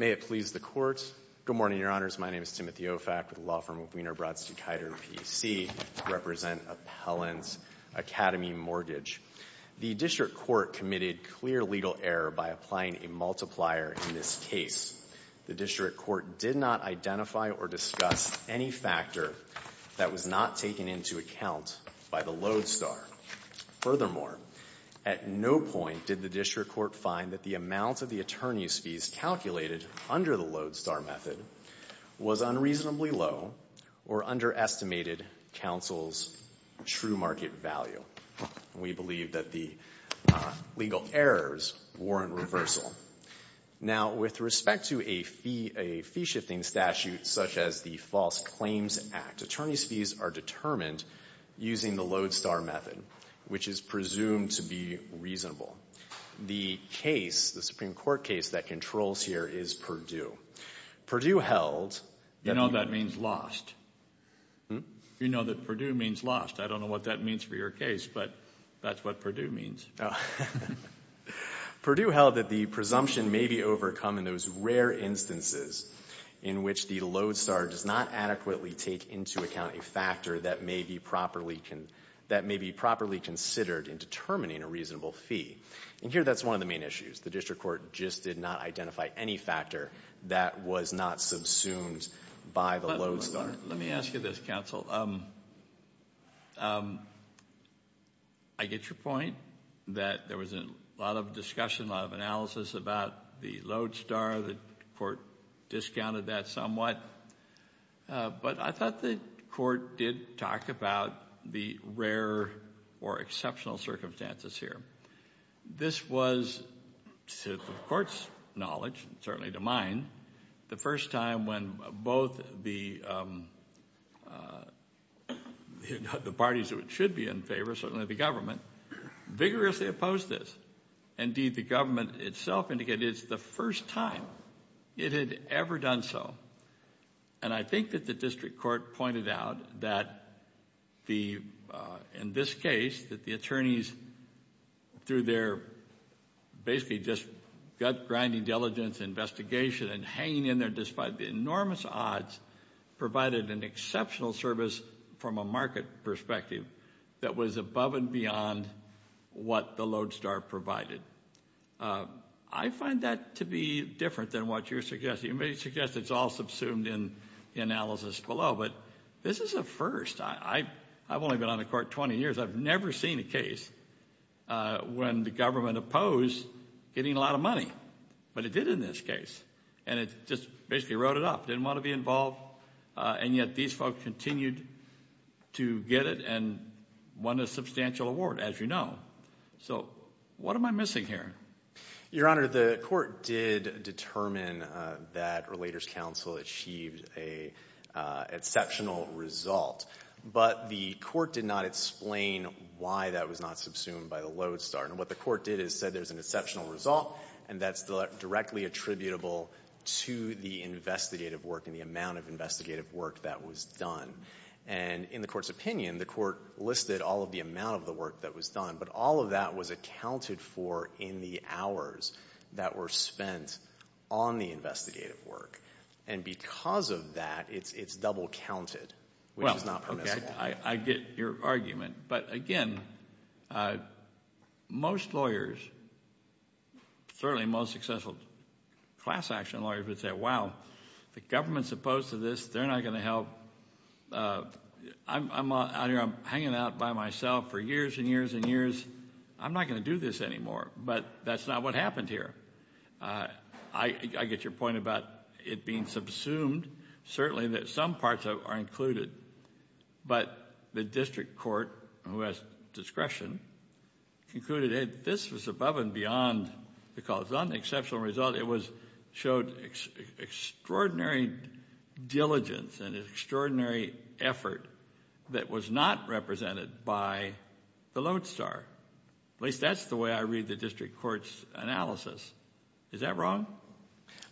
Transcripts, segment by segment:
May it please the Court. Good morning, Your Honors. My name is Timothy Ofak, with the Law Firm of Wiener-Brotz to Keiter PC, to represent Appellant Academy Mortgage. The District Court committed clear legal error by applying a multiplier in this case. The District Court did not identify or discuss any factor that was not taken into account by the Lodestar. Furthermore, at no point did the District Court find that the amount of the attorney's fees calculated under the Lodestar method was unreasonably low or underestimated counsel's true market value. We believe that the legal errors warrant reversal. Now, with respect to a fee-shifting statute such as the False Claims Act, attorney's fees are determined using the Lodestar method, which is presumed to be reasonable. The case, the Supreme Court case that controls here is Purdue. Purdue held that the... You know that means lost. Hmm? You know that Purdue means lost. I don't know what that means for your case, but that's what Purdue means. Purdue held that the presumption may be overcome in those rare instances in which the Lodestar does not adequately take into account a factor that may be properly considered in determining a reasonable fee. And here that's one of the main issues. The District Court just did not identify any factor that was not subsumed by the Lodestar. Let me ask you this, counsel. I get your point that there was a lot of discussion, a lot of analysis about the Lodestar. The court discounted that somewhat. But I thought the court did talk about the rare or exceptional circumstances here. This was, to the court's knowledge, certainly to mine, the first time when both the parties that should be in favor, certainly the government, vigorously opposed this. Indeed, the government itself indicated it's the first time it had ever done so. And I think that the District Court pointed out that, in this case, that the attorneys, through their basically just gut-grinding diligence and investigation and hanging in there despite the enormous odds, provided an exceptional service from a market perspective that was above and beyond what the Lodestar provided. I find that to be different than what you're suggesting. You may suggest it's all subsumed in the analysis below. But this is a first. I've only been on the court 20 years. I've never seen a case when the government opposed getting a lot of money. But it did in this case. And it just basically wrote it up. Didn't want to be involved. And yet these folks continued to get it and won a substantial award, as you know. So what am I missing here? Your Honor, the court did determine that Relators Council achieved an exceptional result. But the court did not explain why that was not subsumed by the Lodestar. And what the court did is said there's an exceptional result, and that's directly attributable to the investigative work and the amount of investigative work that was done. And in the court's opinion, the court listed all of the amount of the work that was done. But all of that was accounted for in the hours that were spent on the investigative work. And because of that, it's double counted, which is not permissible. I get your argument. But, again, most lawyers, certainly most successful class action lawyers would say, wow, the government's opposed to this. They're not going to help. I'm out here. I'm hanging out by myself for years and years and years. I'm not going to do this anymore. But that's not what happened here. I get your point about it being subsumed. Certainly some parts are included. But the district court, who has discretion, concluded that this was above and beyond the cause. On the exceptional result, it showed extraordinary diligence and extraordinary effort that was not represented by the Lodestar. At least that's the way I read the district court's analysis. Is that wrong?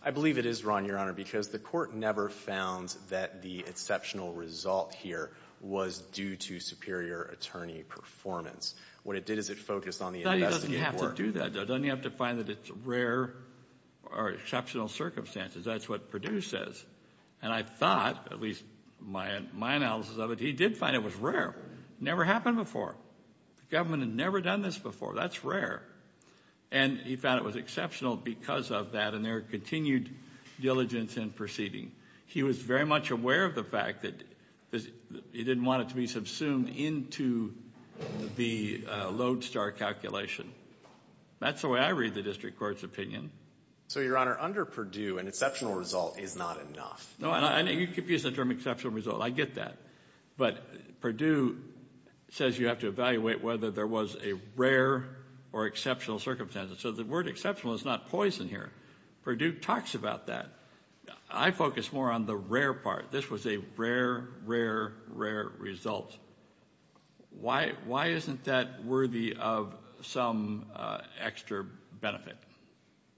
I believe it is wrong, Your Honor, because the court never found that the exceptional result here was due to superior attorney performance. What it did is it focused on the investigative work. It doesn't have to do that, though. It doesn't have to find that it's rare or exceptional circumstances. That's what Perdue says. And I thought, at least my analysis of it, he did find it was rare. It never happened before. The government had never done this before. That's rare. And he found it was exceptional because of that and their continued diligence in proceeding. He was very much aware of the fact that he didn't want it to be subsumed into the Lodestar calculation. That's the way I read the district court's opinion. So, Your Honor, under Perdue, an exceptional result is not enough. No, you're confusing the term exceptional result. I get that. But Perdue says you have to evaluate whether there was a rare or exceptional circumstance. So the word exceptional is not poison here. Perdue talks about that. I focus more on the rare part. This was a rare, rare, rare result. Why isn't that worthy of some extra benefit?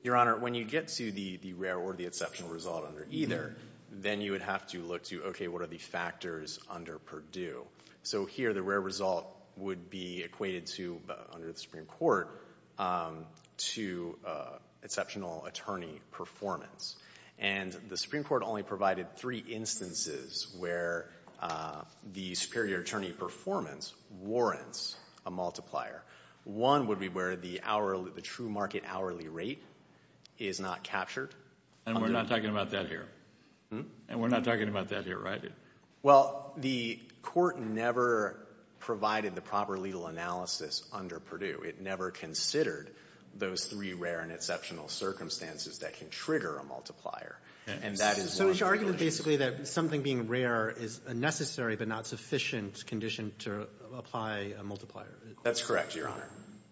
Your Honor, when you get to the rare or the exceptional result under either, then you would have to look to, okay, what are the factors under Perdue? So here the rare result would be equated to, under the Supreme Court, to exceptional attorney performance. And the Supreme Court only provided three instances where the superior attorney performance warrants a multiplier. One would be where the true market hourly rate is not captured. And we're not talking about that here. And we're not talking about that here, right? Well, the court never provided the proper legal analysis under Perdue. It never considered those three rare and exceptional circumstances that can trigger a multiplier. So it's your argument basically that something being rare is a necessary but not sufficient condition to apply a multiplier. That's correct, Your Honor.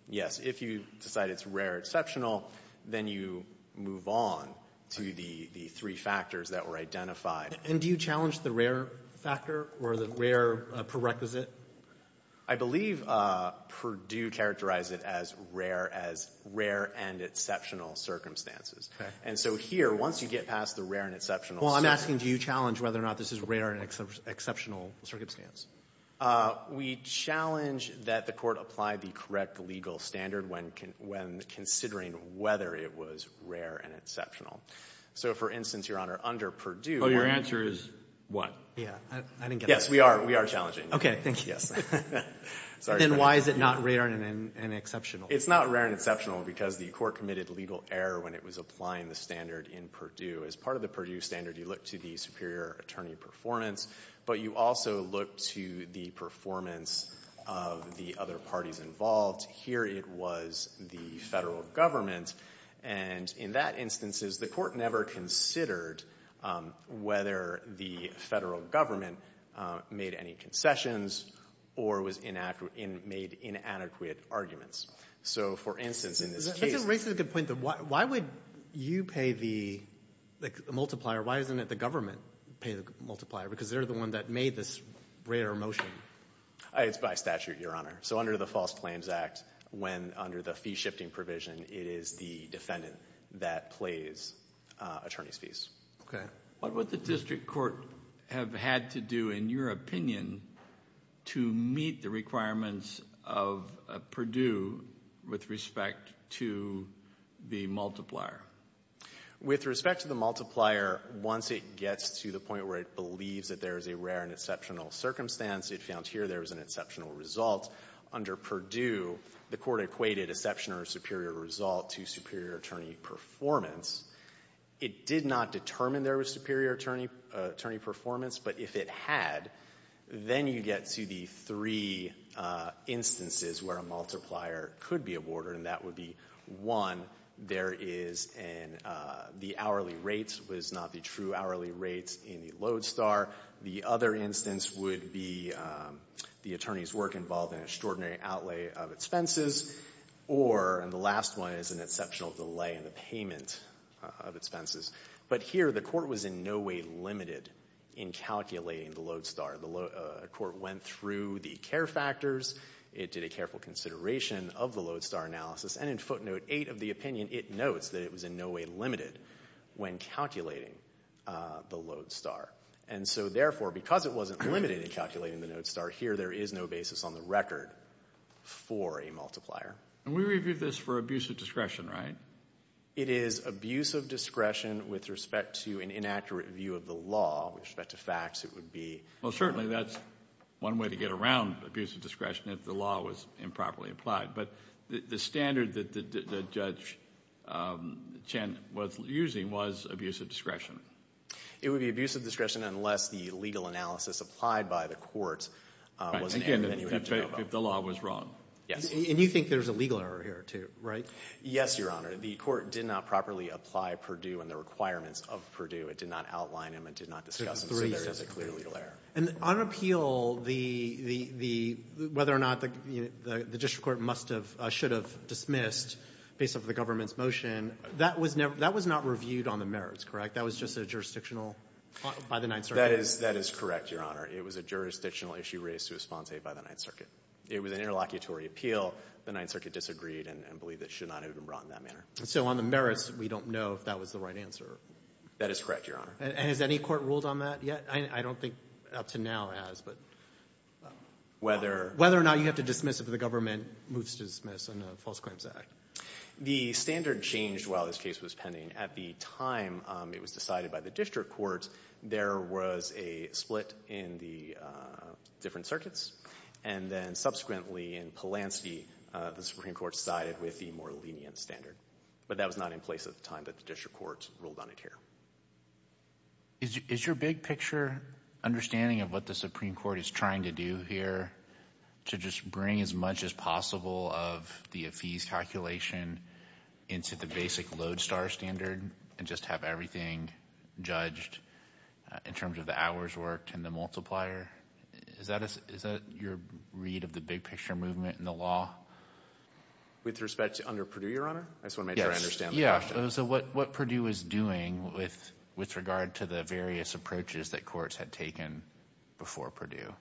Yes. If you decide it's rare-exceptional, then you move on to the three factors that were identified. And do you challenge the rare factor or the rare prerequisite? I believe Perdue characterized it as rare, as rare and exceptional circumstances. Okay. And so here, once you get past the rare and exceptional circumstance. Well, I'm asking, do you challenge whether or not this is rare and exceptional circumstance? We challenge that the court apply the correct legal standard when considering whether it was rare and exceptional. So, for instance, Your Honor, under Perdue. Oh, your answer is what? Yeah, I didn't get that. Yes, we are challenging. Okay, thank you. Yes. Then why is it not rare and exceptional? It's not rare and exceptional because the court committed legal error when it was applying the standard in Perdue. As part of the Perdue standard, you look to the superior attorney performance, but you also look to the performance of the other parties involved. Here it was the Federal Government. And in that instances, the court never considered whether the Federal Government made any concessions or was inadequate or made inadequate arguments. So, for instance, in this case. Why would you pay the multiplier? Why doesn't the government pay the multiplier? Because they're the one that made this rare motion. It's by statute, Your Honor. So under the False Claims Act, when under the fee-shifting provision, it is the defendant that plays attorney's fees. Okay. What would the district court have had to do, in your opinion, to meet the requirements of Perdue with respect to the multiplier? With respect to the multiplier, once it gets to the point where it believes that there is a rare and exceptional circumstance, it found here there was an exceptional result. Under Perdue, the court equated exceptional or superior result to superior attorney performance. It did not determine there was superior attorney performance. But if it had, then you get to the three instances where a multiplier could be aborted. And that would be, one, there is an the hourly rates was not the true hourly rates in the Lodestar. The other instance would be the attorney's work involved in extraordinary outlay of expenses. Or, and the last one is an exceptional delay in the payment of expenses. But here, the court was in no way limited in calculating the Lodestar. The court went through the care factors. It did a careful consideration of the Lodestar analysis. And in footnote 8 of the opinion, it notes that it was in no way limited when calculating the Lodestar. And so, therefore, because it wasn't limited in calculating the Lodestar, here there is no basis on the record for a multiplier. And we reviewed this for abuse of discretion, right? It is abuse of discretion with respect to an inaccurate view of the law. With respect to facts, it would be. Well, certainly that's one way to get around abuse of discretion if the law was improperly applied. But the standard that Judge Chen was using was abuse of discretion. It would be abuse of discretion unless the legal analysis applied by the court was an error. Again, if the law was wrong. Yes. And you think there's a legal error here, too, right? Yes, Your Honor. The court did not properly apply Purdue and the requirements of Purdue. It did not outline them. It did not discuss them. So there is a clear legal error. And on appeal, whether or not the district court must have, should have dismissed, based off the government's motion, that was not reviewed on the merits, correct? That was just a jurisdictional by the Ninth Circuit. That is correct, Your Honor. It was a jurisdictional issue raised to a sponte by the Ninth Circuit. It was an interlocutory appeal. The Ninth Circuit disagreed and believed it should not have been brought in that manner. So on the merits, we don't know if that was the right answer. That is correct, Your Honor. And has any court ruled on that yet? I don't think up to now it has, but whether or not you have to dismiss if the government moves to dismiss under the False Claims Act. The standard changed while this case was pending. At the time it was decided by the district court, there was a split in the different circuits. And then subsequently in Polanski, the Supreme Court sided with the more lenient standard. But that was not in place at the time that the district court ruled on it here. Is your big picture understanding of what the Supreme Court is trying to do here to just bring as much as possible of the AFIS calculation into the basic Lodestar standard and just have everything judged in terms of the hours worked and the multiplier? Is that your read of the big picture movement in the law? With respect to under Purdue, Your Honor? I just want to make sure I understand the question. What Purdue is doing with regard to the various approaches that courts had taken before Purdue?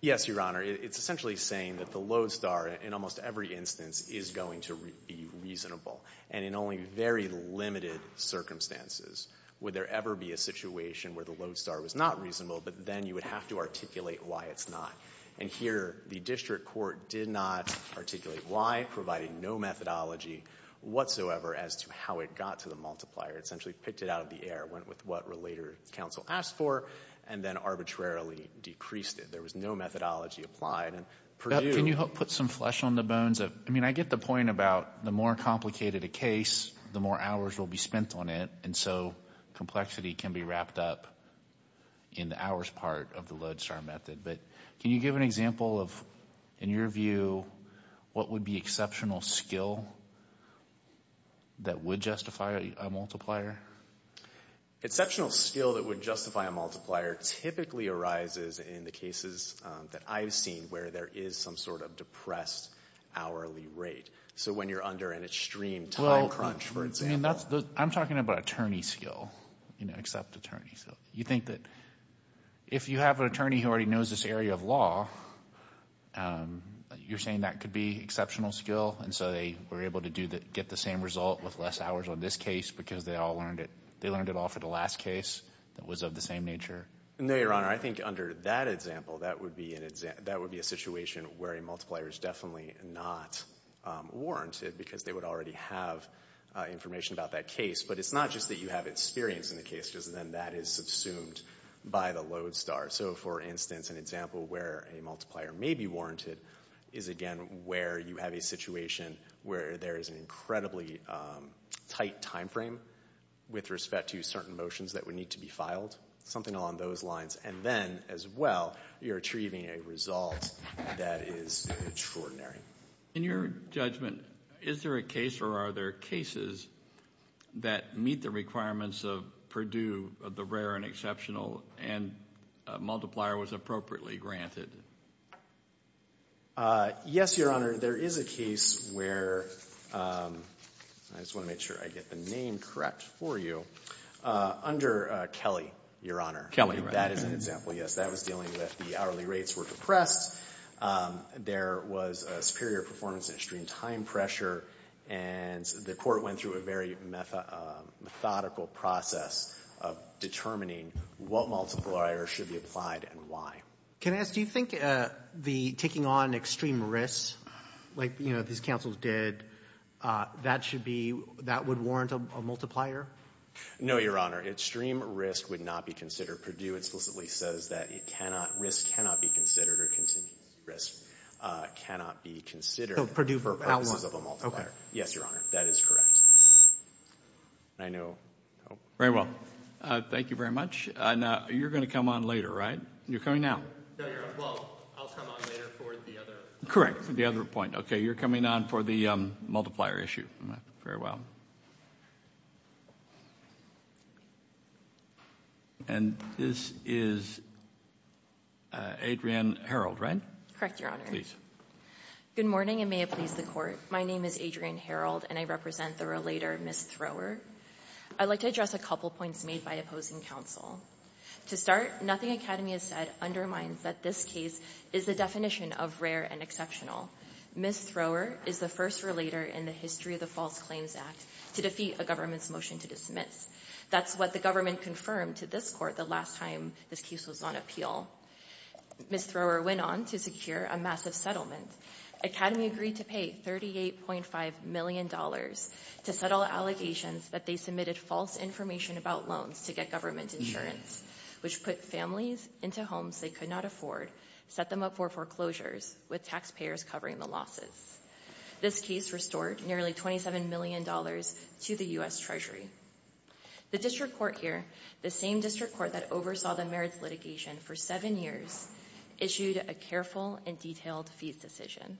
Yes, Your Honor. It's essentially saying that the Lodestar in almost every instance is going to be reasonable. And in only very limited circumstances would there ever be a situation where the Lodestar was not reasonable, but then you would have to articulate why it's not. And here the district court did not articulate why, providing no methodology whatsoever as to how it got to the multiplier. It essentially picked it out of the air, went with what related counsel asked for, and then arbitrarily decreased it. There was no methodology applied. Can you put some flesh on the bones? I mean, I get the point about the more complicated a case, the more hours will be spent on it, and so complexity can be wrapped up in the hours part of the Lodestar method. But can you give an example of, in your view, what would be exceptional skill that would justify a multiplier? Exceptional skill that would justify a multiplier typically arises in the cases that I've seen where there is some sort of depressed hourly rate. So when you're under an extreme time crunch, for example. I'm talking about attorney skill, you know, except attorney. So you think that if you have an attorney who already knows this area of law, you're saying that could be exceptional skill, and so they were able to get the same result with less hours on this case because they learned it all for the last case that was of the same nature? No, Your Honor. I think under that example, that would be a situation where a multiplier is definitely not warranted because they would already have information about that case. But it's not just that you have experience in the case because then that is subsumed by the Lodestar. So, for instance, an example where a multiplier may be warranted is, again, where you have a situation where there is an incredibly tight time frame with respect to certain motions that would need to be filed, something along those lines. And then, as well, you're achieving a result that is extraordinary. In your judgment, is there a case or are there cases that meet the requirements of Purdue, the rare and exceptional, and a multiplier was appropriately granted? Yes, Your Honor. There is a case where, I just want to make sure I get the name correct for you, under Kelly, Your Honor. Kelly, right. That is an example, yes. That was dealing with the hourly rates were depressed. There was a superior performance in extreme time pressure, and the court went through a very methodical process of determining what multiplier should be applied and why. Can I ask, do you think the taking on extreme risks, like, you know, these counsels did, that should be, that would warrant a multiplier? No, Your Honor. Extreme risk would not be considered. Mr. Purdue explicitly says that it cannot, risk cannot be considered, or continued risk cannot be considered. Purdue for purposes of a multiplier. Yes, Your Honor. That is correct. I know. Very well. Thank you very much. Now, you're going to come on later, right? You're coming now. No, Your Honor. Well, I'll come on later for the other. Correct, for the other point. Okay, you're coming on for the multiplier issue. Very well. And this is Adrienne Herald, right? Correct, Your Honor. Please. Good morning, and may it please the Court. My name is Adrienne Herald, and I represent the relator, Ms. Thrower. I'd like to address a couple points made by opposing counsel. To start, nothing Academy has said undermines that this case is the definition of rare and exceptional. Ms. Thrower is the first relator in the history of the False Claims Act to defeat a government's motion to dismiss. That's what the government confirmed to this Court the last time this case was on appeal. Ms. Thrower went on to secure a massive settlement. Academy agreed to pay $38.5 million to settle allegations that they submitted false information about loans to get government insurance, which put families into homes they could not afford, set them up for foreclosures, with taxpayers covering the losses. This case restored nearly $27 million to the U.S. Treasury. The district court here, the same district court that oversaw the merits litigation for seven years, issued a careful and detailed fees decision.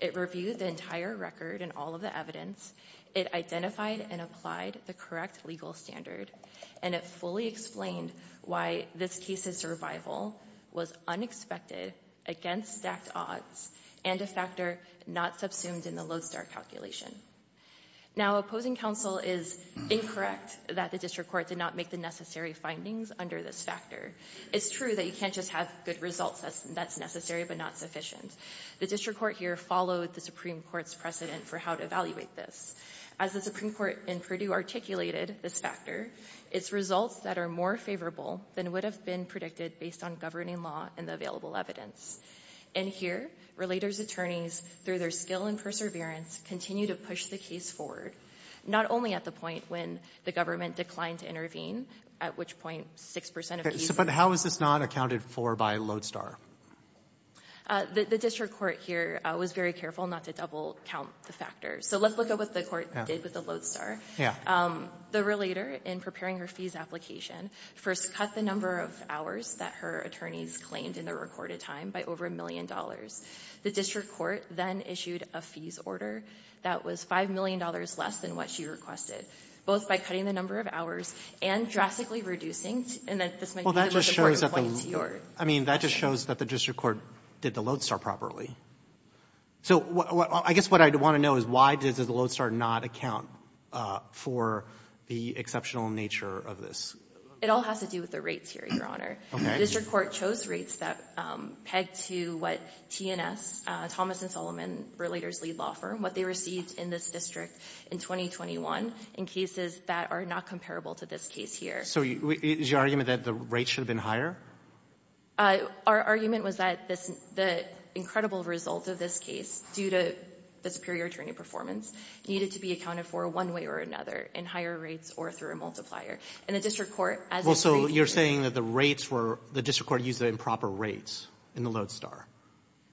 It reviewed the entire record and all of the evidence. It identified and applied the correct legal standard. And it fully explained why this case's survival was unexpected, against stacked odds, and a factor not subsumed in the Lowe-Starr calculation. Now, opposing counsel is incorrect that the district court did not make the necessary findings under this factor. It's true that you can't just have good results that's necessary but not sufficient. The district court here followed the Supreme Court's precedent for how to evaluate this. As the Supreme Court in Purdue articulated this factor, it's results that are more favorable than would have been predicted based on governing law and the available evidence. And here, relators' attorneys, through their skill and perseverance, continue to push the case forward, not only at the point when the government declined to intervene, at which point 6% of cases— But how is this not accounted for by Lowe-Starr? The district court here was very careful not to double count the factors. So let's look at what the court did with the Lowe-Starr. The relator, in preparing her fees application, first cut the number of hours that her attorneys claimed in the recorded time by over $1 million. The district court then issued a fees order that was $5 million less than what she requested, both by cutting the number of hours and drastically reducing— Well, that just shows that the district court did the Lowe-Starr properly. So I guess what I want to know is why does the Lowe-Starr not account for the exceptional nature of this? It all has to do with the rates here, Your Honor. Okay. The district court chose rates that pegged to what T&S, Thomas & Solomon Relators Lead Law Firm, what they received in this district in 2021 in cases that are not comparable to this case here. So is your argument that the rates should have been higher? Our argument was that this — the incredible result of this case, due to the superior attorney performance, needed to be accounted for one way or another, in higher rates or through a multiplier. And the district court, as you say— Well, so you're saying that the rates were — the district court used the improper rates in the Lowe-Starr.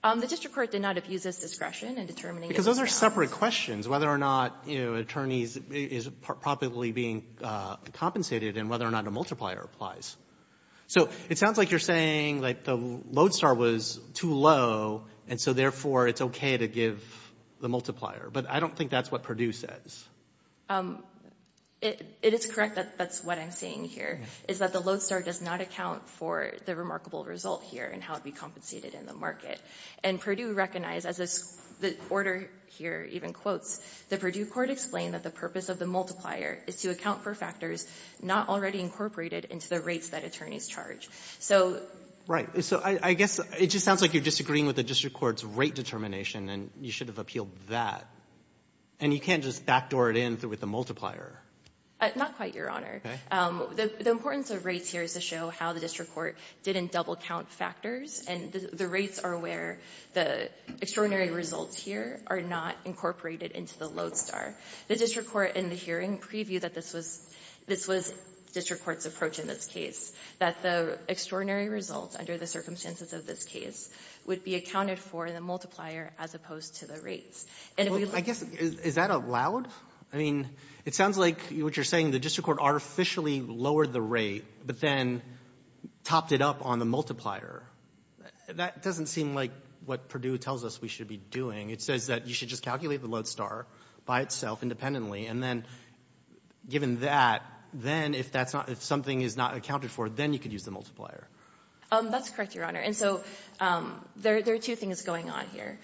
The district court did not abuse its discretion in determining— Because those are separate questions, whether or not, you know, attorneys is probably being compensated and whether or not a multiplier applies. So it sounds like you're saying, like, the Lowe-Starr was too low, and so, therefore, it's okay to give the multiplier. But I don't think that's what Perdue says. It is correct that that's what I'm saying here, is that the Lowe-Starr does not account for the remarkable result here and how it would be compensated in the market. And Perdue recognized, as the order here even quotes, the Perdue court explained that the purpose of the multiplier is to account for factors not already incorporated into the rates that attorneys charge. So— Right. So I guess it just sounds like you're disagreeing with the district court's rate determination, and you should have appealed that. And you can't just backdoor it in with the multiplier. Not quite, Your Honor. Okay. The importance of rates here is to show how the district court didn't double-count factors, and the rates are where the extraordinary results here are not incorporated into the Lowe-Starr. The district court in the hearing previewed that this was — this was district court's approach in this case, that the extraordinary results under the circumstances of this case would be accounted for in the multiplier as opposed to the rates. And if we look— Well, I guess, is that allowed? I mean, it sounds like what you're saying, the district court artificially lowered the rate, but then topped it up on the multiplier. That doesn't seem like what Perdue tells us we should be doing. It says that you should just calculate the Lowe-Starr by itself independently, and then, given that, then if that's not — if something is not accounted for, then you could use the multiplier. That's correct, Your Honor. And so there are two things going on here.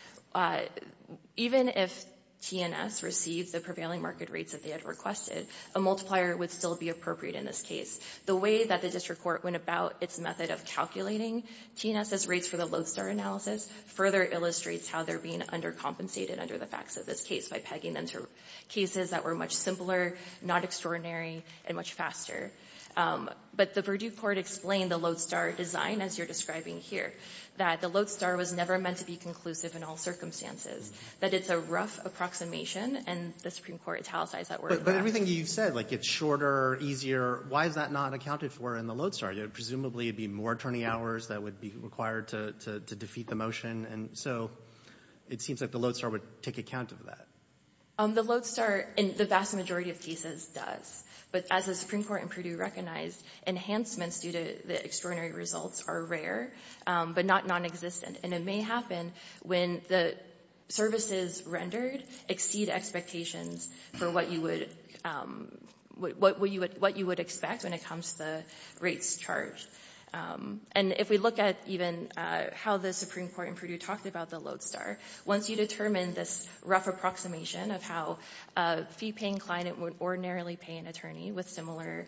Even if T&S received the prevailing market rates that they had requested, a multiplier would still be appropriate in this case. The way that the district court went about its method of calculating T&S's rates for the Lowe-Starr analysis further illustrates how they're being undercompensated under the facts of this case by pegging them to cases that were much simpler, not extraordinary, and much faster. But the Perdue approximation, and the Supreme Court italicized that word. But everything you've said, like it's shorter, easier, why is that not accounted for in the Lowe-Starr? Presumably it would be more attorney hours that would be required to defeat the motion, and so it seems like the Lowe-Starr would take account of that. The Lowe-Starr, in the vast majority of cases, does. But as the Supreme Court in Perdue recognized, enhancements due to the extraordinary results are rare, but not non-existent. And it may happen when the services rendered exceed expectations for what you would expect when it comes to the rates charged. And if we look at even how the Supreme Court in Perdue talked about the Lowe-Starr, once you determine this rough approximation of how a fee-paying client would ordinarily pay an attorney with similar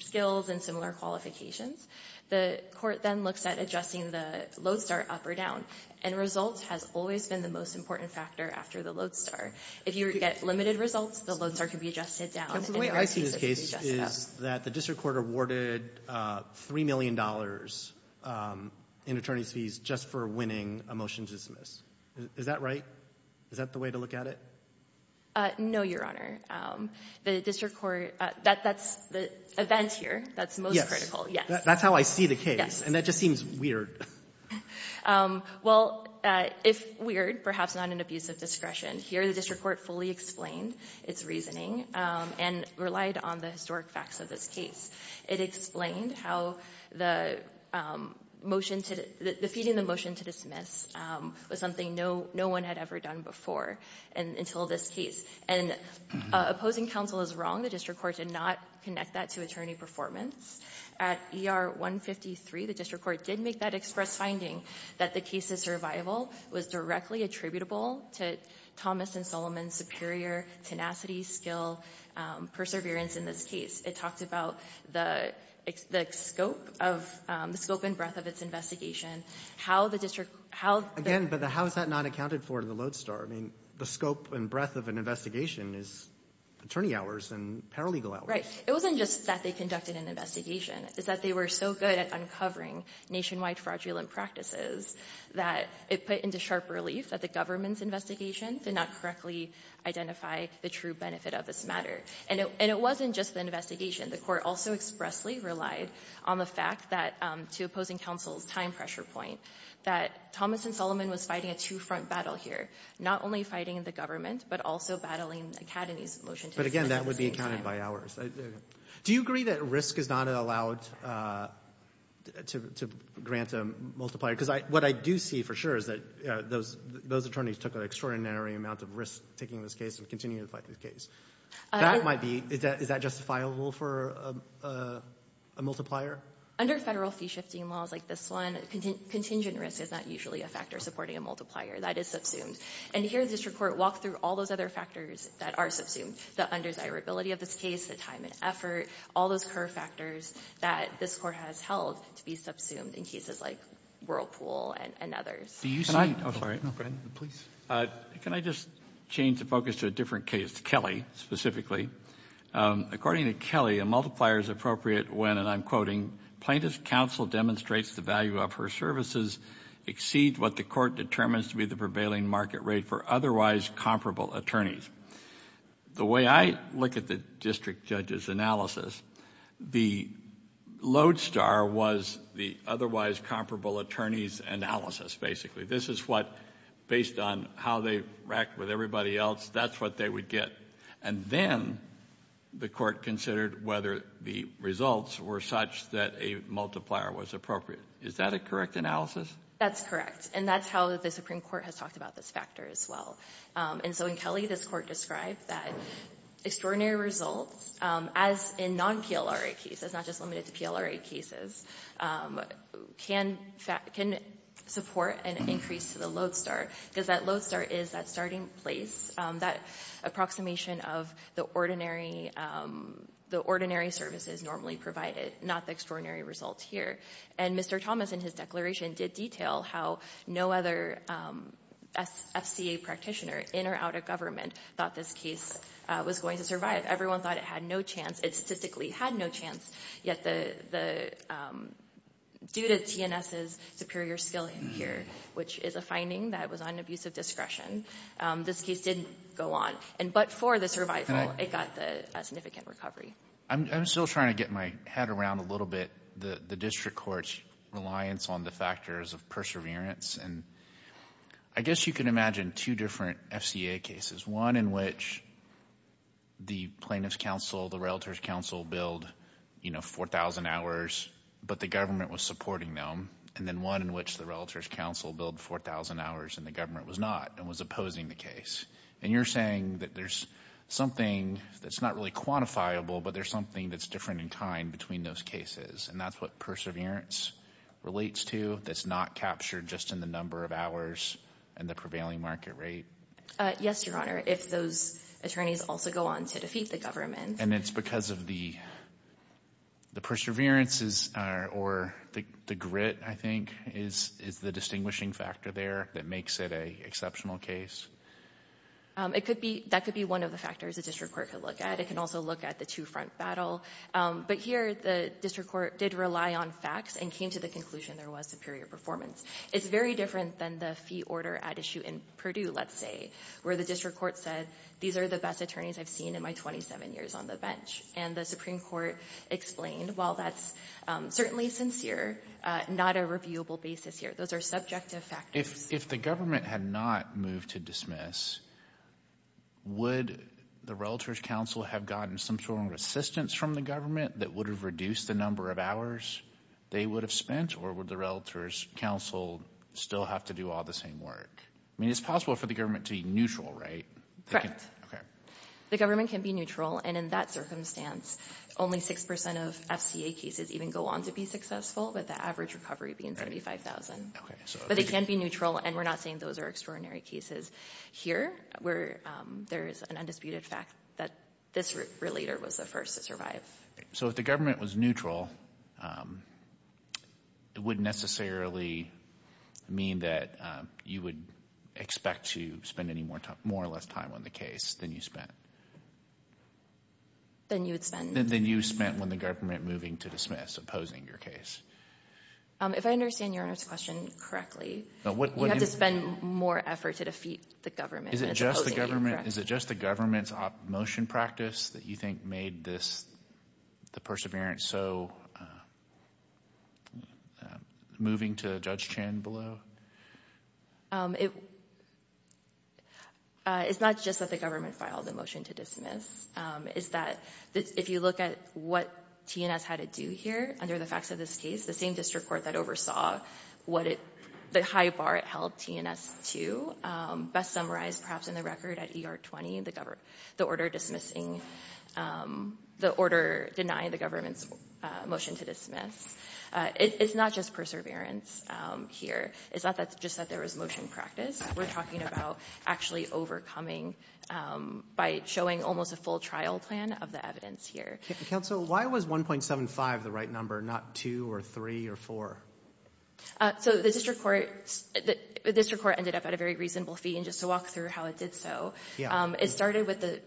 skills and similar qualifications, the court then looks at adjusting the Lowe-Starr up or down. And result has always been the most important factor after the Lowe-Starr. If you get limited results, the Lowe-Starr can be adjusted down. And the way I see this case is that the district court awarded $3 million in attorney's fees just for winning a motion to dismiss. Is that right? Is that the way to look at it? No, Your Honor. The district court that's the event here that's most critical. Yes. That's how I see the case. And that just seems weird. Well, if weird, perhaps not an abuse of discretion. Here the district court fully explained its reasoning and relied on the historic facts of this case. It explained how the motion to the fee and the motion to dismiss was something no one had ever done before until this case. And opposing counsel is wrong. The district court did not connect that to attorney performance. At ER 153, the district court did make that express finding that the case's survival was directly attributable to Thomas and Solomon's superior tenacity, skill, perseverance in this case. It talked about the scope of the scope and breadth of its investigation, how the district how the How is that not accounted for in the Lodestar? I mean, the scope and breadth of an investigation is attorney hours and paralegal hours. Right. It wasn't just that they conducted an investigation. It's that they were so good at uncovering nationwide fraudulent practices that it put into sharp relief that the government's expressly relied on the fact that, to opposing counsel's time pressure point, that Thomas and Solomon was fighting a two-front battle here, not only fighting the government, but also battling Academy's motion to dismiss at the same time. But again, that would be accounted by hours. Do you agree that risk is not allowed to grant a multiplier? Because what I do see for sure is that those attorneys took an extraordinary amount of risk taking this case and continuing to fight this case. Is that justifiable for a multiplier? Under federal fee-shifting laws like this one, contingent risk is not usually a factor supporting a multiplier. That is subsumed. And here the district court walked through all those other factors that are subsumed, the undesirability of this case, the time and effort, all those curve factors that this court has subsumed in cases like Whirlpool and others. Can I just change the focus to a different case, Kelly, specifically? According to Kelly, a multiplier is appropriate when, and I'm quoting, plaintiff's counsel demonstrates the value of her services exceed what the court determines to be the prevailing market rate for otherwise comparable attorneys. The way I look at the district judge's analysis, the lodestar was the otherwise comparable attorneys analysis, basically. This is what, based on how they racked with everybody else, that's what they would get. And then the court considered whether the results were such that a multiplier was appropriate. Is that a correct analysis? That's correct. And that's how the Supreme Court has talked about this factor as well. And so in Kelly, this Court described that extraordinary results, as in non-PLRA cases, not just limited to PLRA cases, can support an increase to the lodestar because that lodestar is that starting place, that approximation of the ordinary services normally provided, not the extraordinary results here. And Mr. Thomas, in his declaration, did detail how no other FCA practitioner in or out of government thought this case was going to survive. Everyone thought it had no chance. It statistically had no chance, yet the — due to TNS's superior skill here, which is a finding that was on abusive discretion, this case didn't go on. But for the survival, it got a significant recovery. I'm still trying to get my head around a little bit the district court's reliance on the factors of perseverance. And I guess you can imagine two different FCA cases, one in which the plaintiff's counsel, the relative's counsel billed, you know, 4,000 hours, but the government was supporting them, and then one in which the relative's counsel billed 4,000 hours and the government was not and was opposing the case. And you're saying that there's something that's not really quantifiable, but there's something that's different in kind between those cases, and that's what perseverance relates to, that's not captured just in the number of hours and the prevailing market rate? Yes, Your Honor, if those attorneys also go on to defeat the government. And it's because of the perseverance or the grit, I think, is the distinguishing factor there that makes it an exceptional case? That could be one of the factors a district court could look at. It can also look at the two-front battle. But here, the district court did rely on facts and came to the conclusion there was superior performance. It's very different than the fee order at issue in Purdue, let's say, where the district court said, these are the best attorneys I've seen in my 27 years on the bench. And the Supreme Court explained, while that's certainly sincere, not a reviewable basis here. Those are subjective factors. If the government had not moved to dismiss, would the Relatives Council have gotten some sort of assistance from the government that would have reduced the number of hours they would have spent, or would the Relatives Council still have to do all the same work? I mean, it's possible for the government to be neutral, right? Correct. Okay. The government can be neutral, and in that circumstance, only 6% of FCA cases even go on to be successful, with the average recovery being 75,000. Okay. But it can be neutral, and we're not saying those are extraordinary cases. Here, there is an undisputed fact that this relator was the first to survive. So if the government was neutral, it wouldn't necessarily mean that you would expect to spend any more or less time on the case than you spent? Than you would spend? Than you spent when the government moving to dismiss, opposing your case. If I understand Your Honor's question correctly, you have to spend more effort to defeat the government than opposing the case, correct? Is it just the government's motion practice that you think made this, the perseverance, so moving to Judge Chin below? It's not just that the government filed the motion to dismiss. It's that if you look at what TNS had to do here, under the facts of this case, the same district court that oversaw the high bar it held TNS to, best summarized perhaps in the record at ER 20, the order denying the government's motion to dismiss. It's not just perseverance here. It's not just that there was motion practice. We're talking about actually overcoming by showing almost a full trial plan of the evidence here. Counsel, why was 1.75 the right number, not 2 or 3 or 4? So the district court ended up at a very reasonable fee. And just to walk through how it did so, it started with the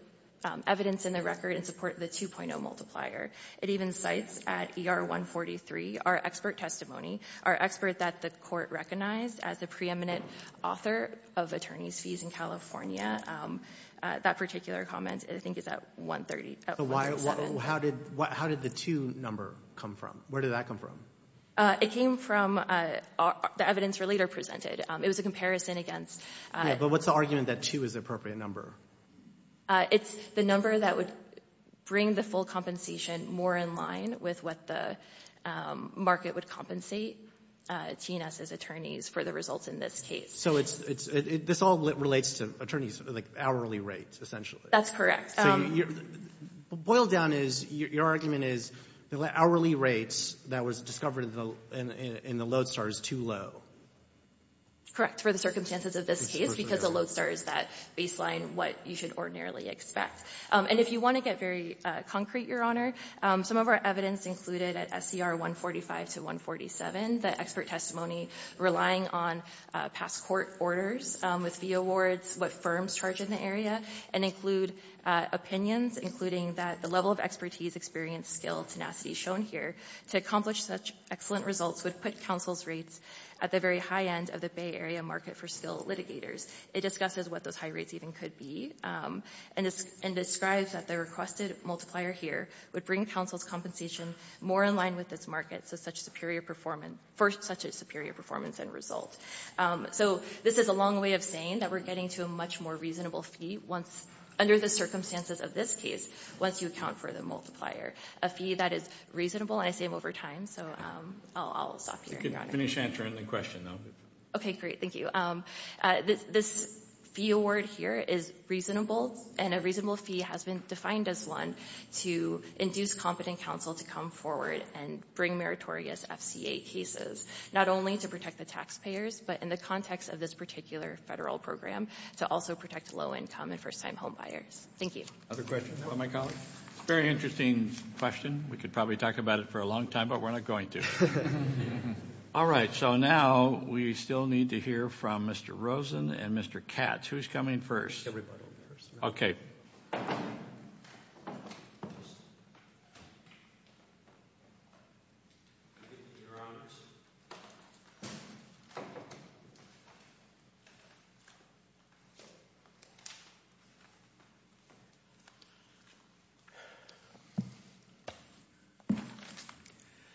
evidence in the record in support of the 2.0 multiplier. It even cites at ER 143 our expert testimony, our expert that the court recognized as the preeminent author of attorneys' fees in California. That particular comment, I think, is at 137. How did the 2 number come from? Where did that come from? It came from the evidence we later presented. It was a comparison against the ---- But what's the argument that 2 is the appropriate number? It's the number that would bring the full compensation more in line with what the market would compensate T&S's attorneys for the results in this case. So this all relates to attorneys' hourly rates, essentially. That's correct. Boiled down is your argument is the hourly rates that was discovered in the Lodestar is too low. Correct, for the circumstances of this case, because the Lodestar is that baseline, what you should ordinarily expect. And if you want to get very concrete, Your Honor, some of our evidence included at SCR 145 to 147, the expert testimony relying on past court orders with fee awards, what firms charge in the area, and include opinions including that the level of expertise, experience, skill, tenacity shown here to accomplish such excellent results would put counsel's rates at the very high end of the Bay Area market for skilled litigators. It discusses what those high rates even could be, and describes that the requested multiplier here would bring counsel's compensation more in line with this market for such a superior performance and result. So this is a long way of saying that we're getting to a much more reasonable fee under the circumstances of this case once you account for the multiplier, a fee that is reasonable, and I say it over time, so I'll stop here. You can finish answering the question, though. Okay, great. Thank you. This fee award here is reasonable, and a reasonable fee has been defined as one to induce competent counsel to come forward and bring meritorious FCA cases, not only to protect the taxpayers, but in the context of this particular federal program, to also protect low-income and first-time home buyers. Thank you. Other questions from my colleagues? It's a very interesting question. We could probably talk about it for a long time, but we're not going to. All right, so now we still need to hear from Mr. Rosen and Mr. Katz. Who's coming first? Everybody. Okay.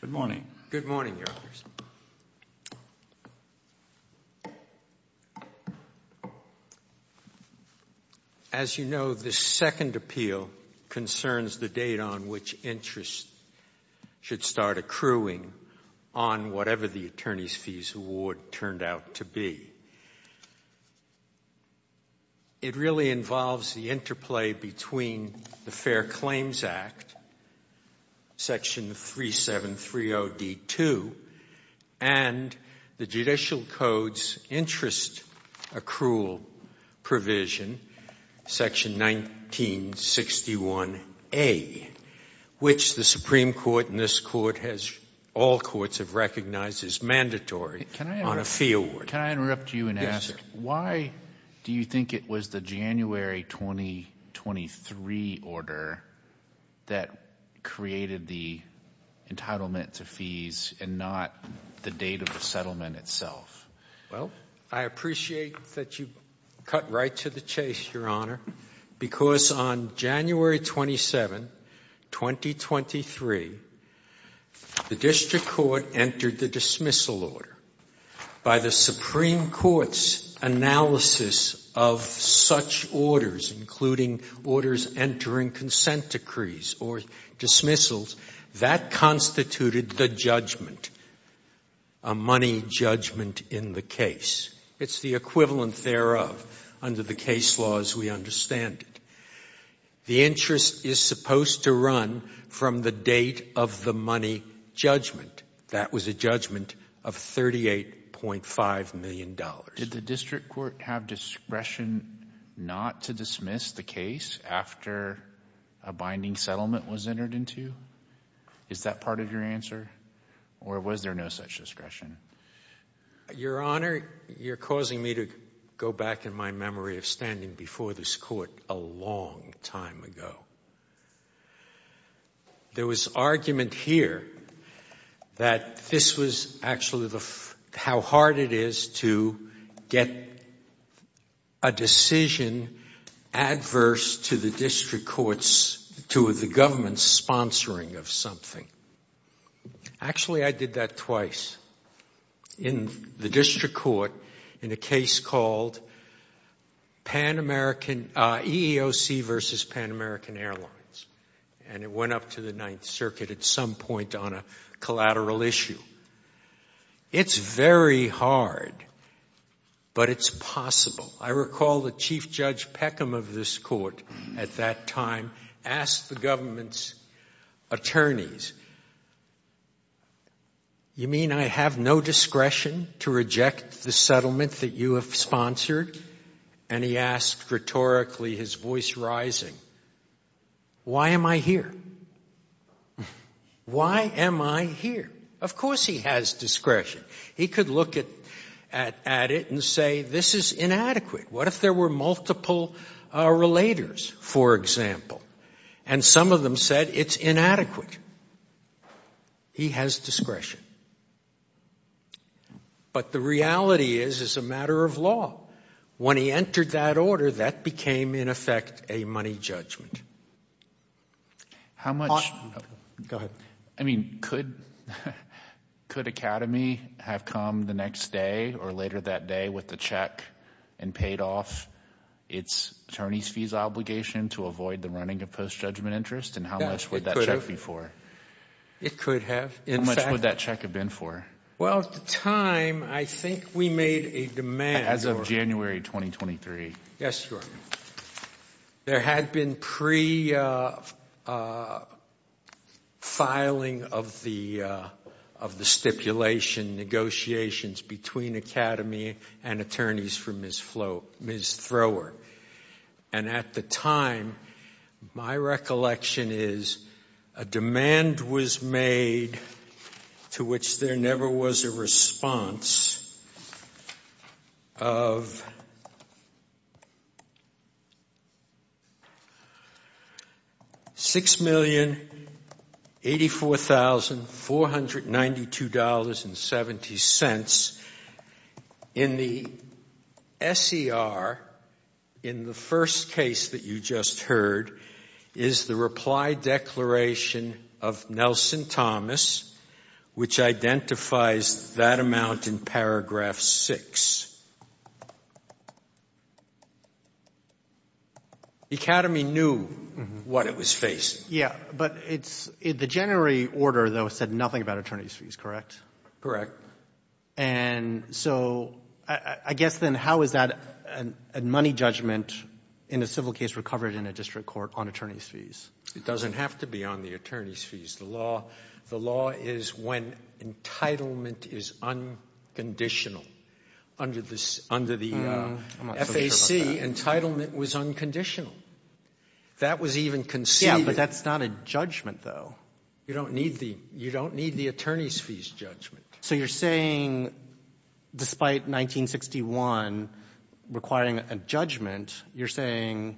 Good morning. Good morning, Your Honors. As you know, this second appeal concerns the date on which interest should start accruing on whatever the attorney's fees award turned out to be. It really involves the interplay between the Fair Claims Act, Section 3730D2, and the Judicial Code's interest accrual provision, Section 1961A, which the Supreme Court and this Court, all courts have recognized as mandatory on a fee award. Can I interrupt you and ask, why do you think it was the January 2023 order that created the entitlement to fees and not the date of the settlement itself? Well, I appreciate that you cut right to the chase, Your Honor, because on January 27, 2023, the District Court entered the dismissal order. By the Supreme Court's analysis of such orders, including orders entering consent decrees or dismissals, that constituted the judgment, a money judgment in the case. It's the equivalent thereof. Under the case laws, we understand it. The interest is supposed to run from the date of the money judgment. That was a judgment of $38.5 million. Did the District Court have discretion not to dismiss the case after a binding settlement was entered into? Is that part of your answer, or was there no such discretion? Your Honor, you're causing me to go back in my memory of standing before this Court a long time ago. There was argument here that this was actually how hard it is to get a decision adverse to the District Court's, to the government's sponsoring of something. Actually, I did that twice in the District Court in a case called EEOC versus Pan American Airlines, and it went up to the Ninth Circuit at some point on a collateral issue. It's very hard, but it's possible. I recall that Chief Judge Peckham of this Court at that time asked the government's attorneys, you mean I have no discretion to reject the case, and he asked rhetorically, his voice rising, why am I here? Why am I here? Of course he has discretion. He could look at it and say this is inadequate. What if there were multiple relators, for example? And some of them said it's inadequate. He has discretion. But the reality is it's a matter of law. When he entered that order, that became, in effect, a money judgment. Go ahead. I mean, could Academy have come the next day or later that day with the check and paid off its attorney's fees obligation to avoid the running of post-judgment interest, and how much would that check be for? It could have. How much would that check have been for? Well, at the time, I think we made a demand. As of January 2023. Yes, Your Honor. There had been pre-filing of the stipulation negotiations between Academy and attorneys for Ms. Thrower, and at the time, my recollection is a demand was made to which there never was a response of $6,084,492.70. In the S.E.R., in the first case that you just heard, is the reply declaration of Nelson Thomas, which identifies that amount in paragraph 6. Academy knew what it was facing. Yes, but the January order, though, said nothing about attorney's fees, correct? Correct. And so I guess then how is that a money judgment in a civil case recovered in a district court on attorney's fees? It doesn't have to be on the attorney's fees. The law is when entitlement is unconditional. Under the FAC, entitlement was unconditional. That was even conceded. Yes, but that's not a judgment, though. You don't need the attorney's fees judgment. So you're saying, despite 1961 requiring a judgment, you're saying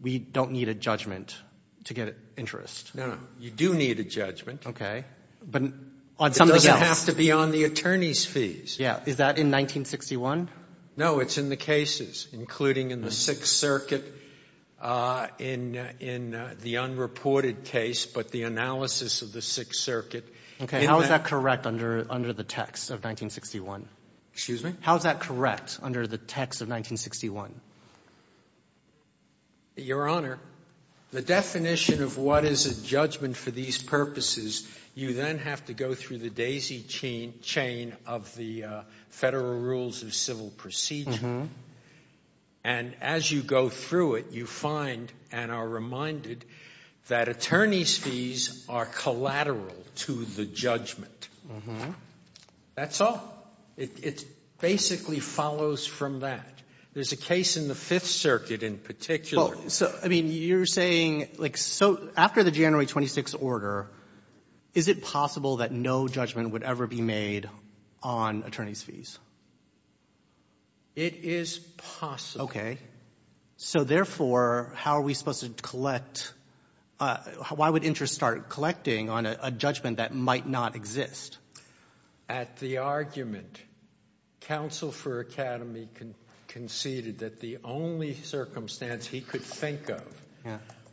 we don't need a judgment to get interest. No, no. You do need a judgment. Okay. But on something else. It doesn't have to be on the attorney's fees. Yes. Is that in 1961? No, it's in the cases, including in the Sixth Circuit, in the unreported case, but the analysis of the Sixth Circuit. Okay. How is that correct under the text of 1961? Excuse me? How is that correct under the text of 1961? Your Honor, the definition of what is a judgment for these purposes, you then have to go through the daisy chain of the Federal Rules of Civil Procedure. And as you go through it, you find and are reminded that attorney's fees are collateral to the judgment. That's all. It basically follows from that. There's a case in the Fifth Circuit in particular. Well, so, I mean, you're saying, like, so after the January 26th order, is it possible that no judgment would ever be made on attorney's fees? It is possible. So, therefore, how are we supposed to collect? Why would interest start collecting on a judgment that might not exist? At the argument, counsel for Academy conceded that the only circumstance he could think of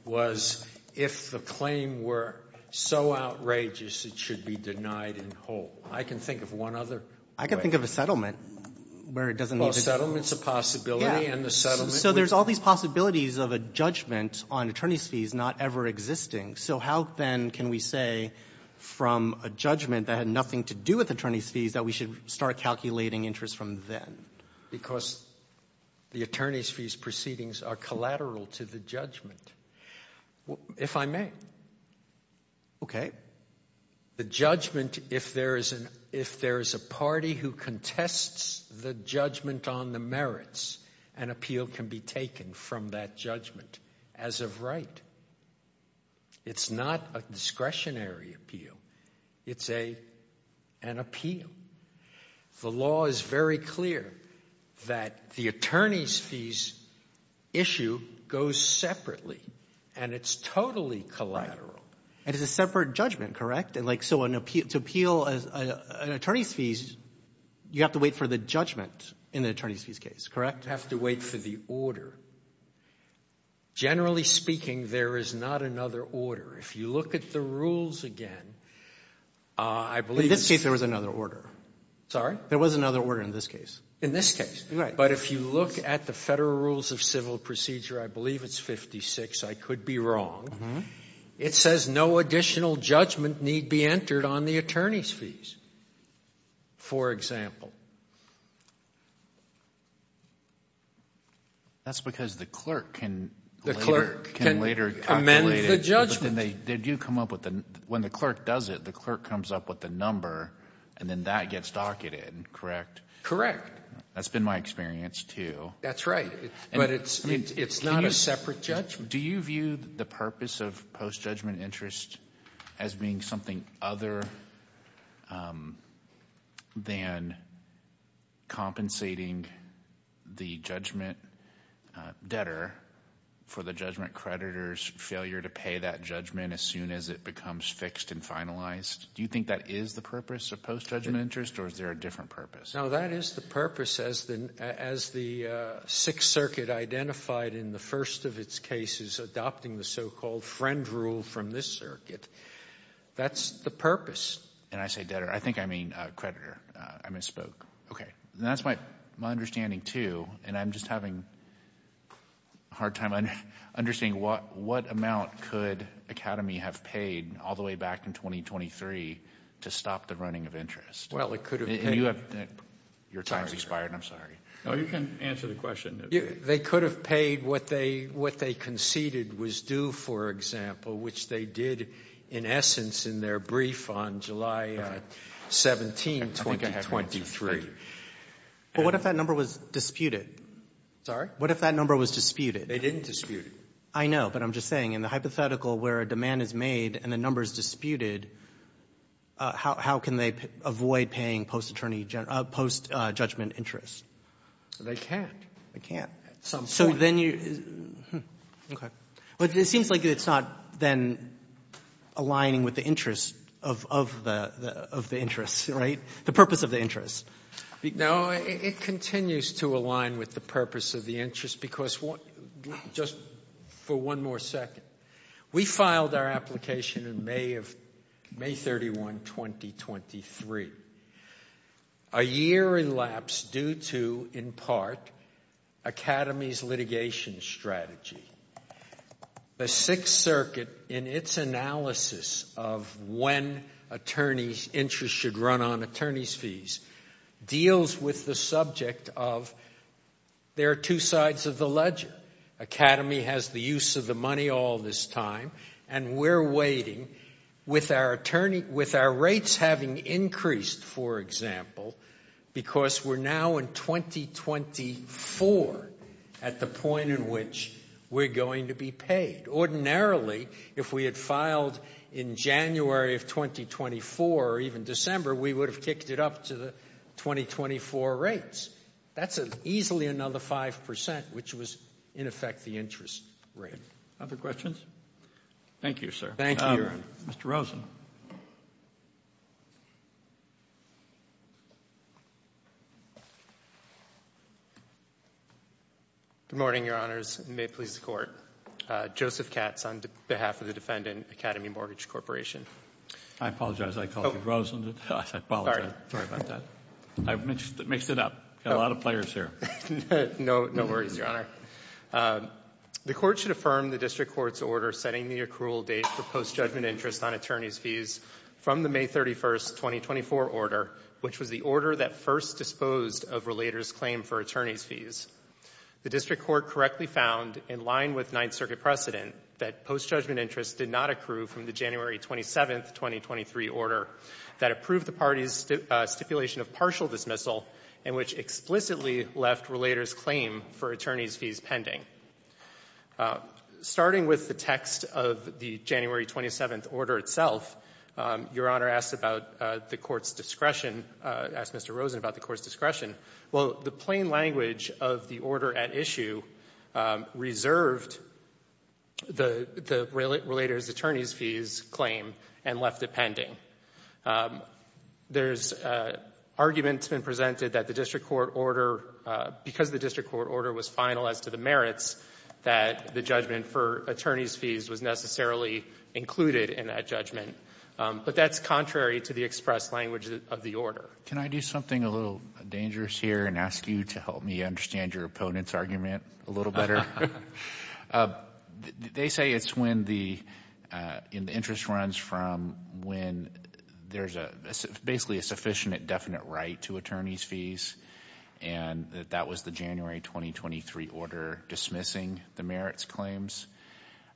was if the claim were so outrageous it should be denied in whole. I can think of one other way. I can think of a settlement where it doesn't need to be. Well, a settlement's a possibility, and the settlement would be. So there's all these possibilities of a judgment on attorney's fees not ever existing. So how, then, can we say from a judgment that had nothing to do with attorney's fees that we should start calculating interest from then? Because the attorney's fees proceedings are collateral to the judgment, if I may. Okay. The judgment, if there is a party who contests the judgment on the merits, an appeal can be taken from that judgment as of right. It's not a discretionary appeal. It's an appeal. The law is very clear that the attorney's fees issue goes separately, and it's totally collateral. It is a separate judgment, correct? And, like, so to appeal an attorney's fees, you have to wait for the judgment in the attorney's fees case, correct? You have to wait for the order. Generally speaking, there is not another order. If you look at the rules again, I believe it's the same. In this case, there was another order. Sorry? There was another order in this case. In this case. Right. But if you look at the Federal Rules of Civil Procedure, I believe it's 56. I could be wrong. It says no additional judgment need be entered on the attorney's fees, for example. That's because the clerk can later calculate it. The clerk can amend the judgment. They do come up with the – when the clerk does it, the clerk comes up with the number, and then that gets docketed, correct? Correct. That's been my experience, too. That's right. But it's not a separate judgment. Do you view the purpose of post-judgment interest as being something other than compensating the judgment debtor for the judgment creditor's failure to pay that judgment as soon as it becomes fixed and finalized? Do you think that is the purpose of post-judgment interest, or is there a different purpose? No, that is the purpose, as the Sixth Circuit identified in the first of its cases, adopting the so-called friend rule from this circuit. That's the purpose. And I say debtor. I think I mean creditor. I misspoke. Okay. And that's my understanding, too, and I'm just having a hard time understanding what amount could Academy have paid all the way back in 2023 to stop the running of interest? Well, it could have been. Your time has expired. I'm sorry. No, you can answer the question. They could have paid what they conceded was due, for example, which they did in essence in their brief on July 17, 2023. But what if that number was disputed? Sorry? What if that number was disputed? They didn't dispute it. I know, but I'm just saying in the hypothetical where a demand is made and the number is disputed, how can they avoid paying post-judgment interest? They can't. They can't. At some point. Okay. But it seems like it's not then aligning with the interest of the interest, right, the purpose of the interest. No, it continues to align with the purpose of the interest because just for one more second, we filed our application in May 31, 2023. A year elapsed due to, in part, Academy's litigation strategy. The Sixth Circuit, in its analysis of when attorneys' interest should run on attorneys' fees, deals with the subject of there are two sides of the ledger. Academy has the use of the money all this time, and we're waiting with our rates having increased, for example, because we're now in 2024 at the point in which we're going to be paid. Ordinarily, if we had filed in January of 2024 or even December, we would have kicked it up to the 2024 rates. That's easily another 5%, which was, in effect, the interest rate. Other questions? Thank you, sir. Thank you. Mr. Rosen. Good morning, Your Honors, and may it please the Court. Joseph Katz on behalf of the defendant, Academy Mortgage Corporation. I apologize. I called you Rosen. I apologize. Sorry about that. I've mixed it up. Got a lot of players here. No worries, Your Honor. The Court should affirm the district court's order setting the accrual date for post-judgment interest on attorneys' fees from the May 31, 2024 order, which was the order that first disposed of Relator's claim for attorneys' fees. The district court correctly found, in line with Ninth Circuit precedent, that post-judgment interest did not accrue from the January 27, 2023 order that approved the party's stipulation of partial dismissal and which explicitly left Relator's claim for attorneys' fees pending. Starting with the text of the January 27 order itself, Your Honor asked about the Court's discretion, asked Mr. Rosen about the Court's discretion. Well, the plain language of the order at issue reserved the Relator's attorneys' fees claim and left it pending. There's arguments been presented that the district court order, because the district court order was final as to the merits, that the judgment for attorneys' fees was necessarily included in that judgment. But that's contrary to the express language of the order. Can I do something a little dangerous here and ask you to help me understand your opponent's argument a little better? They say it's when the interest runs from when there's basically a sufficient definite right to attorneys' fees and that that was the January 2023 order dismissing the merits claims.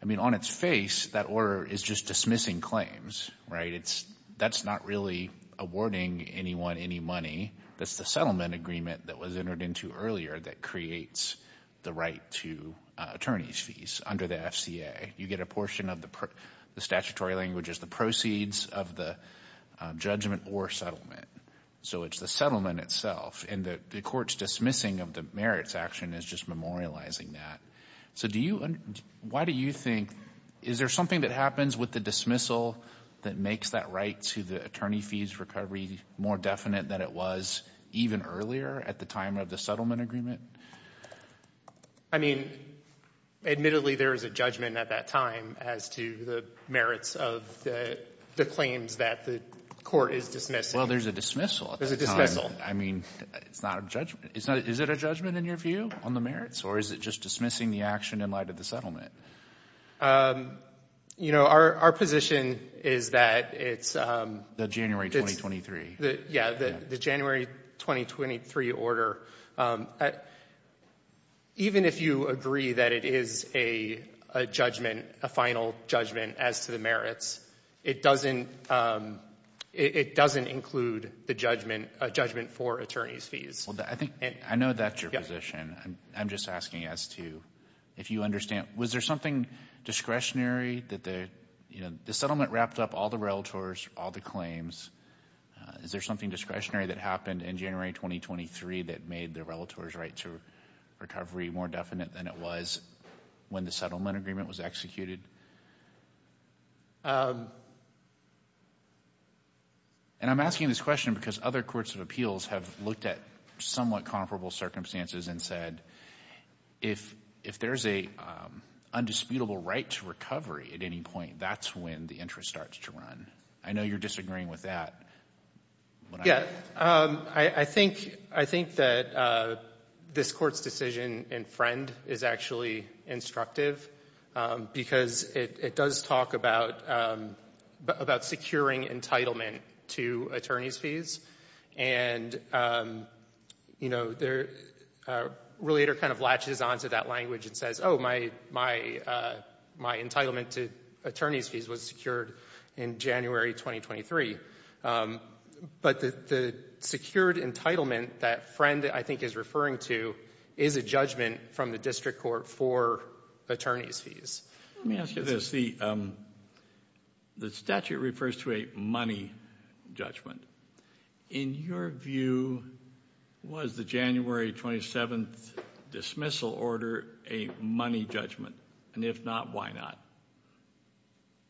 I mean, on its face, that order is just dismissing claims, right? That's not really awarding anyone any money. That's the settlement agreement that was entered into earlier that creates the right to attorneys' fees under the FCA. You get a portion of the statutory languages, the proceeds of the judgment or settlement. So it's the settlement itself. And the Court's dismissing of the merits action is just memorializing that. So do you – why do you think – is there something that happens with the dismissal that makes that right to the attorney fees recovery more definite than it was even earlier at the time of the settlement agreement? I mean, admittedly, there is a judgment at that time as to the merits of the claims that the Court is dismissing. Well, there's a dismissal. There's a dismissal. I mean, it's not a judgment – is it a judgment in your view on the merits or is it just dismissing the action in light of the settlement? You know, our position is that it's – The January 2023. Yeah, the January 2023 order. Even if you agree that it is a judgment, a final judgment as to the merits, it doesn't – it doesn't include the judgment – a judgment for attorneys' fees. Well, I think – I know that's your position. I'm just asking as to if you understand. Was there something discretionary that the – you know, the settlement wrapped up all the relators, all the claims. Is there something discretionary that happened in January 2023 that made the relators' right to recovery more definite than it was when the settlement agreement was executed? And I'm asking this question because other courts of appeals have looked at somewhat comparable circumstances and said if there's a undisputable right to recovery at any point, that's when the interest starts to run. I know you're disagreeing with that. I think – I think that this Court's decision in Friend is actually instructive because it does talk about securing entitlement to attorneys' fees. And, you know, the relator kind of latches on to that language and says, oh, my entitlement to attorneys' fees was secured in January 2023. But the secured entitlement that Friend, I think, is referring to is a judgment from the district court for attorneys' fees. Let me ask you this. The statute refers to a money judgment. In your view, was the January 27th dismissal order a money judgment? And if not, why not?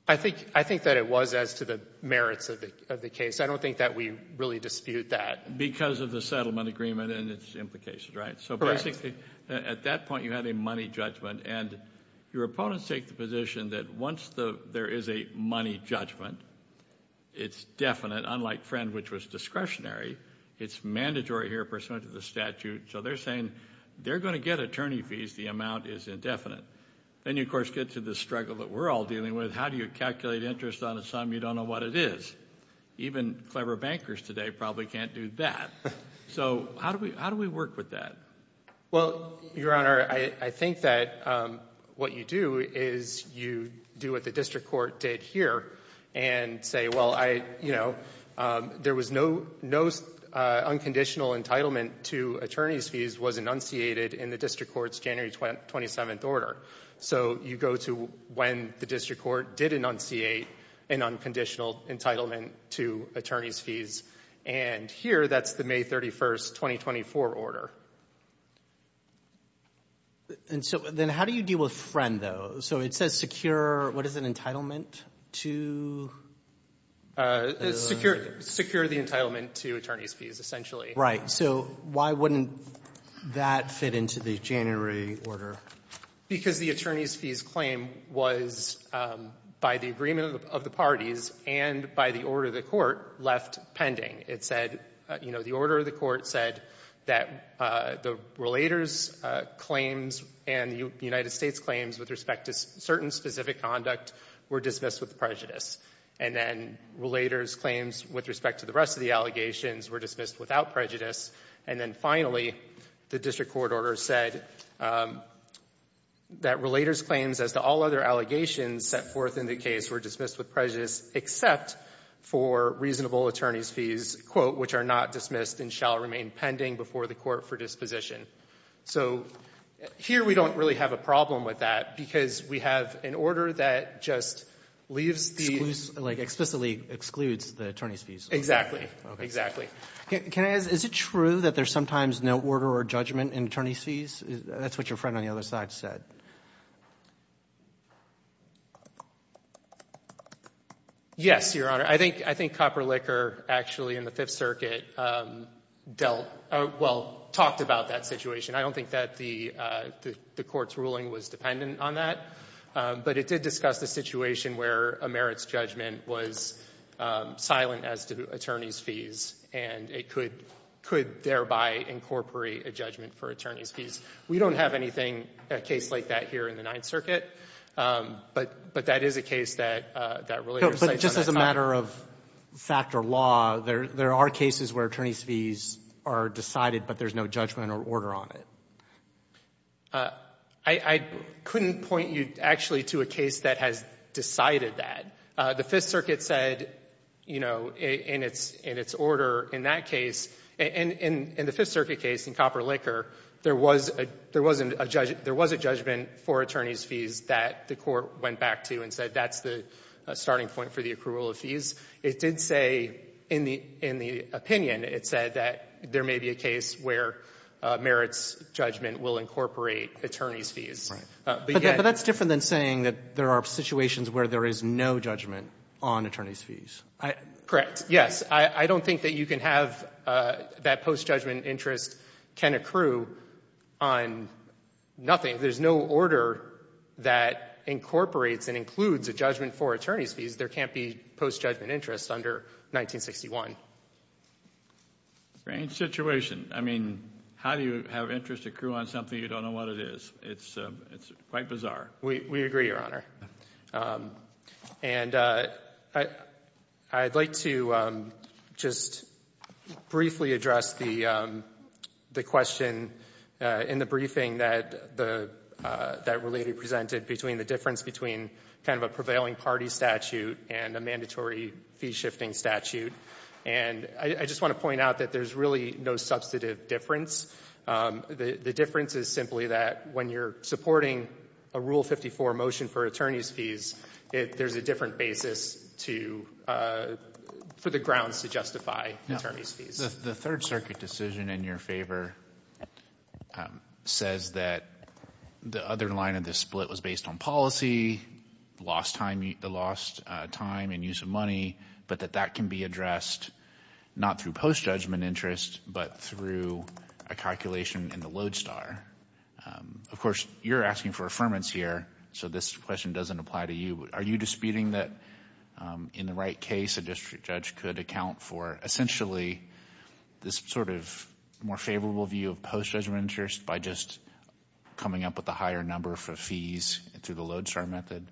I think – I think that it was as to the merits of the case. I don't think that we really dispute that. Because of the settlement agreement and its implications, right? Correct. So basically, at that point, you had a money judgment. And your opponents take the position that once there is a money judgment, it's definite, unlike Friend, which was discretionary. It's mandatory here pursuant to the statute. So they're saying they're going to get attorney fees. The amount is indefinite. Then you, of course, get to the struggle that we're all dealing with. How do you calculate interest on a sum you don't know what it is? Even clever bankers today probably can't do that. So how do we work with that? Well, Your Honor, I think that what you do is you do what the district court did here. And say, well, you know, there was no unconditional entitlement to attorney's fees was enunciated in the district court's January 27th order. So you go to when the district court did enunciate an unconditional entitlement to attorney's fees. And here, that's the May 31st, 2024 order. And so then how do you deal with Friend, though? So it says secure, what is it, entitlement to? Secure the entitlement to attorney's fees, essentially. Right. So why wouldn't that fit into the January order? Because the attorney's fees claim was, by the agreement of the parties and by the order of the court, left pending. It said, you know, the order of the court said that the relator's claims and the United States claims with respect to certain specific conduct were dismissed with prejudice. And then relator's claims with respect to the rest of the allegations were dismissed without prejudice. And then finally, the district court order said that relator's claims as to all other allegations set forth in the case were dismissed with prejudice except for reasonable attorney's fees, quote, which are not dismissed and shall remain pending before the court for disposition. So here we don't really have a problem with that because we have an order that just leaves the— Excludes, like explicitly excludes the attorney's fees. Exactly. Exactly. Can I ask, is it true that there's sometimes no order or judgment in attorney's fees? That's what your friend on the other side said. Yes, Your Honor. I think Copper Licker actually in the Fifth Circuit dealt—well, talked about that situation. I don't think that the court's ruling was dependent on that. But it did discuss the situation where a merit's judgment was silent as to attorney's fees, and it could thereby incorporate a judgment for attorney's fees. We don't have anything, a case like that here in the Ninth Circuit, but that is a case that relator cites on that side. But just as a matter of fact or law, there are cases where attorney's fees are decided, but there's no judgment or order on it. I couldn't point you actually to a case that has decided that. The Fifth Circuit said, you know, in its order in that case, and in the Fifth Circuit case in Copper Licker, there was a judgment for attorney's fees that the court went back to and said that's the starting point for the accrual of fees. It did say in the opinion, it said that there may be a case where merit's judgment will incorporate attorney's fees. But yet— But that's different than saying that there are situations where there is no judgment on attorney's fees. Correct. Yes. I don't think that you can have that post-judgment interest can accrue on nothing. There's no order that incorporates and includes a judgment for attorney's fees. There can't be post-judgment interest under 1961. Strange situation. I mean, how do you have interest accrue on something you don't know what it is? It's quite bizarre. We agree, Your Honor. And I'd like to just briefly address the question in the briefing that Related presented between the difference between kind of a prevailing party statute and a mandatory fee-shifting statute. And I just want to point out that there's really no substantive difference. The difference is simply that when you're supporting a Rule 54 motion for attorney's fees, there's a different basis for the grounds to justify attorney's fees. The Third Circuit decision in your favor says that the other line of this split was based on policy, the lost time and use of money, but that that can be addressed not through post-judgment interest, but through a calculation in the Lodestar. Of course, you're asking for affirmance here, so this question doesn't apply to you. Are you disputing that in the right case, a district judge could account for essentially this sort of more favorable view of post-judgment interest by just coming up with a higher number for fees through the Lodestar method?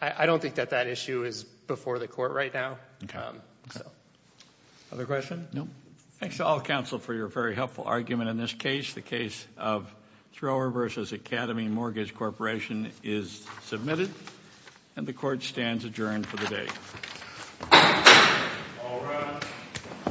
I don't think that that issue is before the Court right now. Other questions? No. Thanks to all counsel for your very helpful argument in this case. The case of Thrower v. Academy Mortgage Corporation is submitted, and the Court stands adjourned for the day. All rise.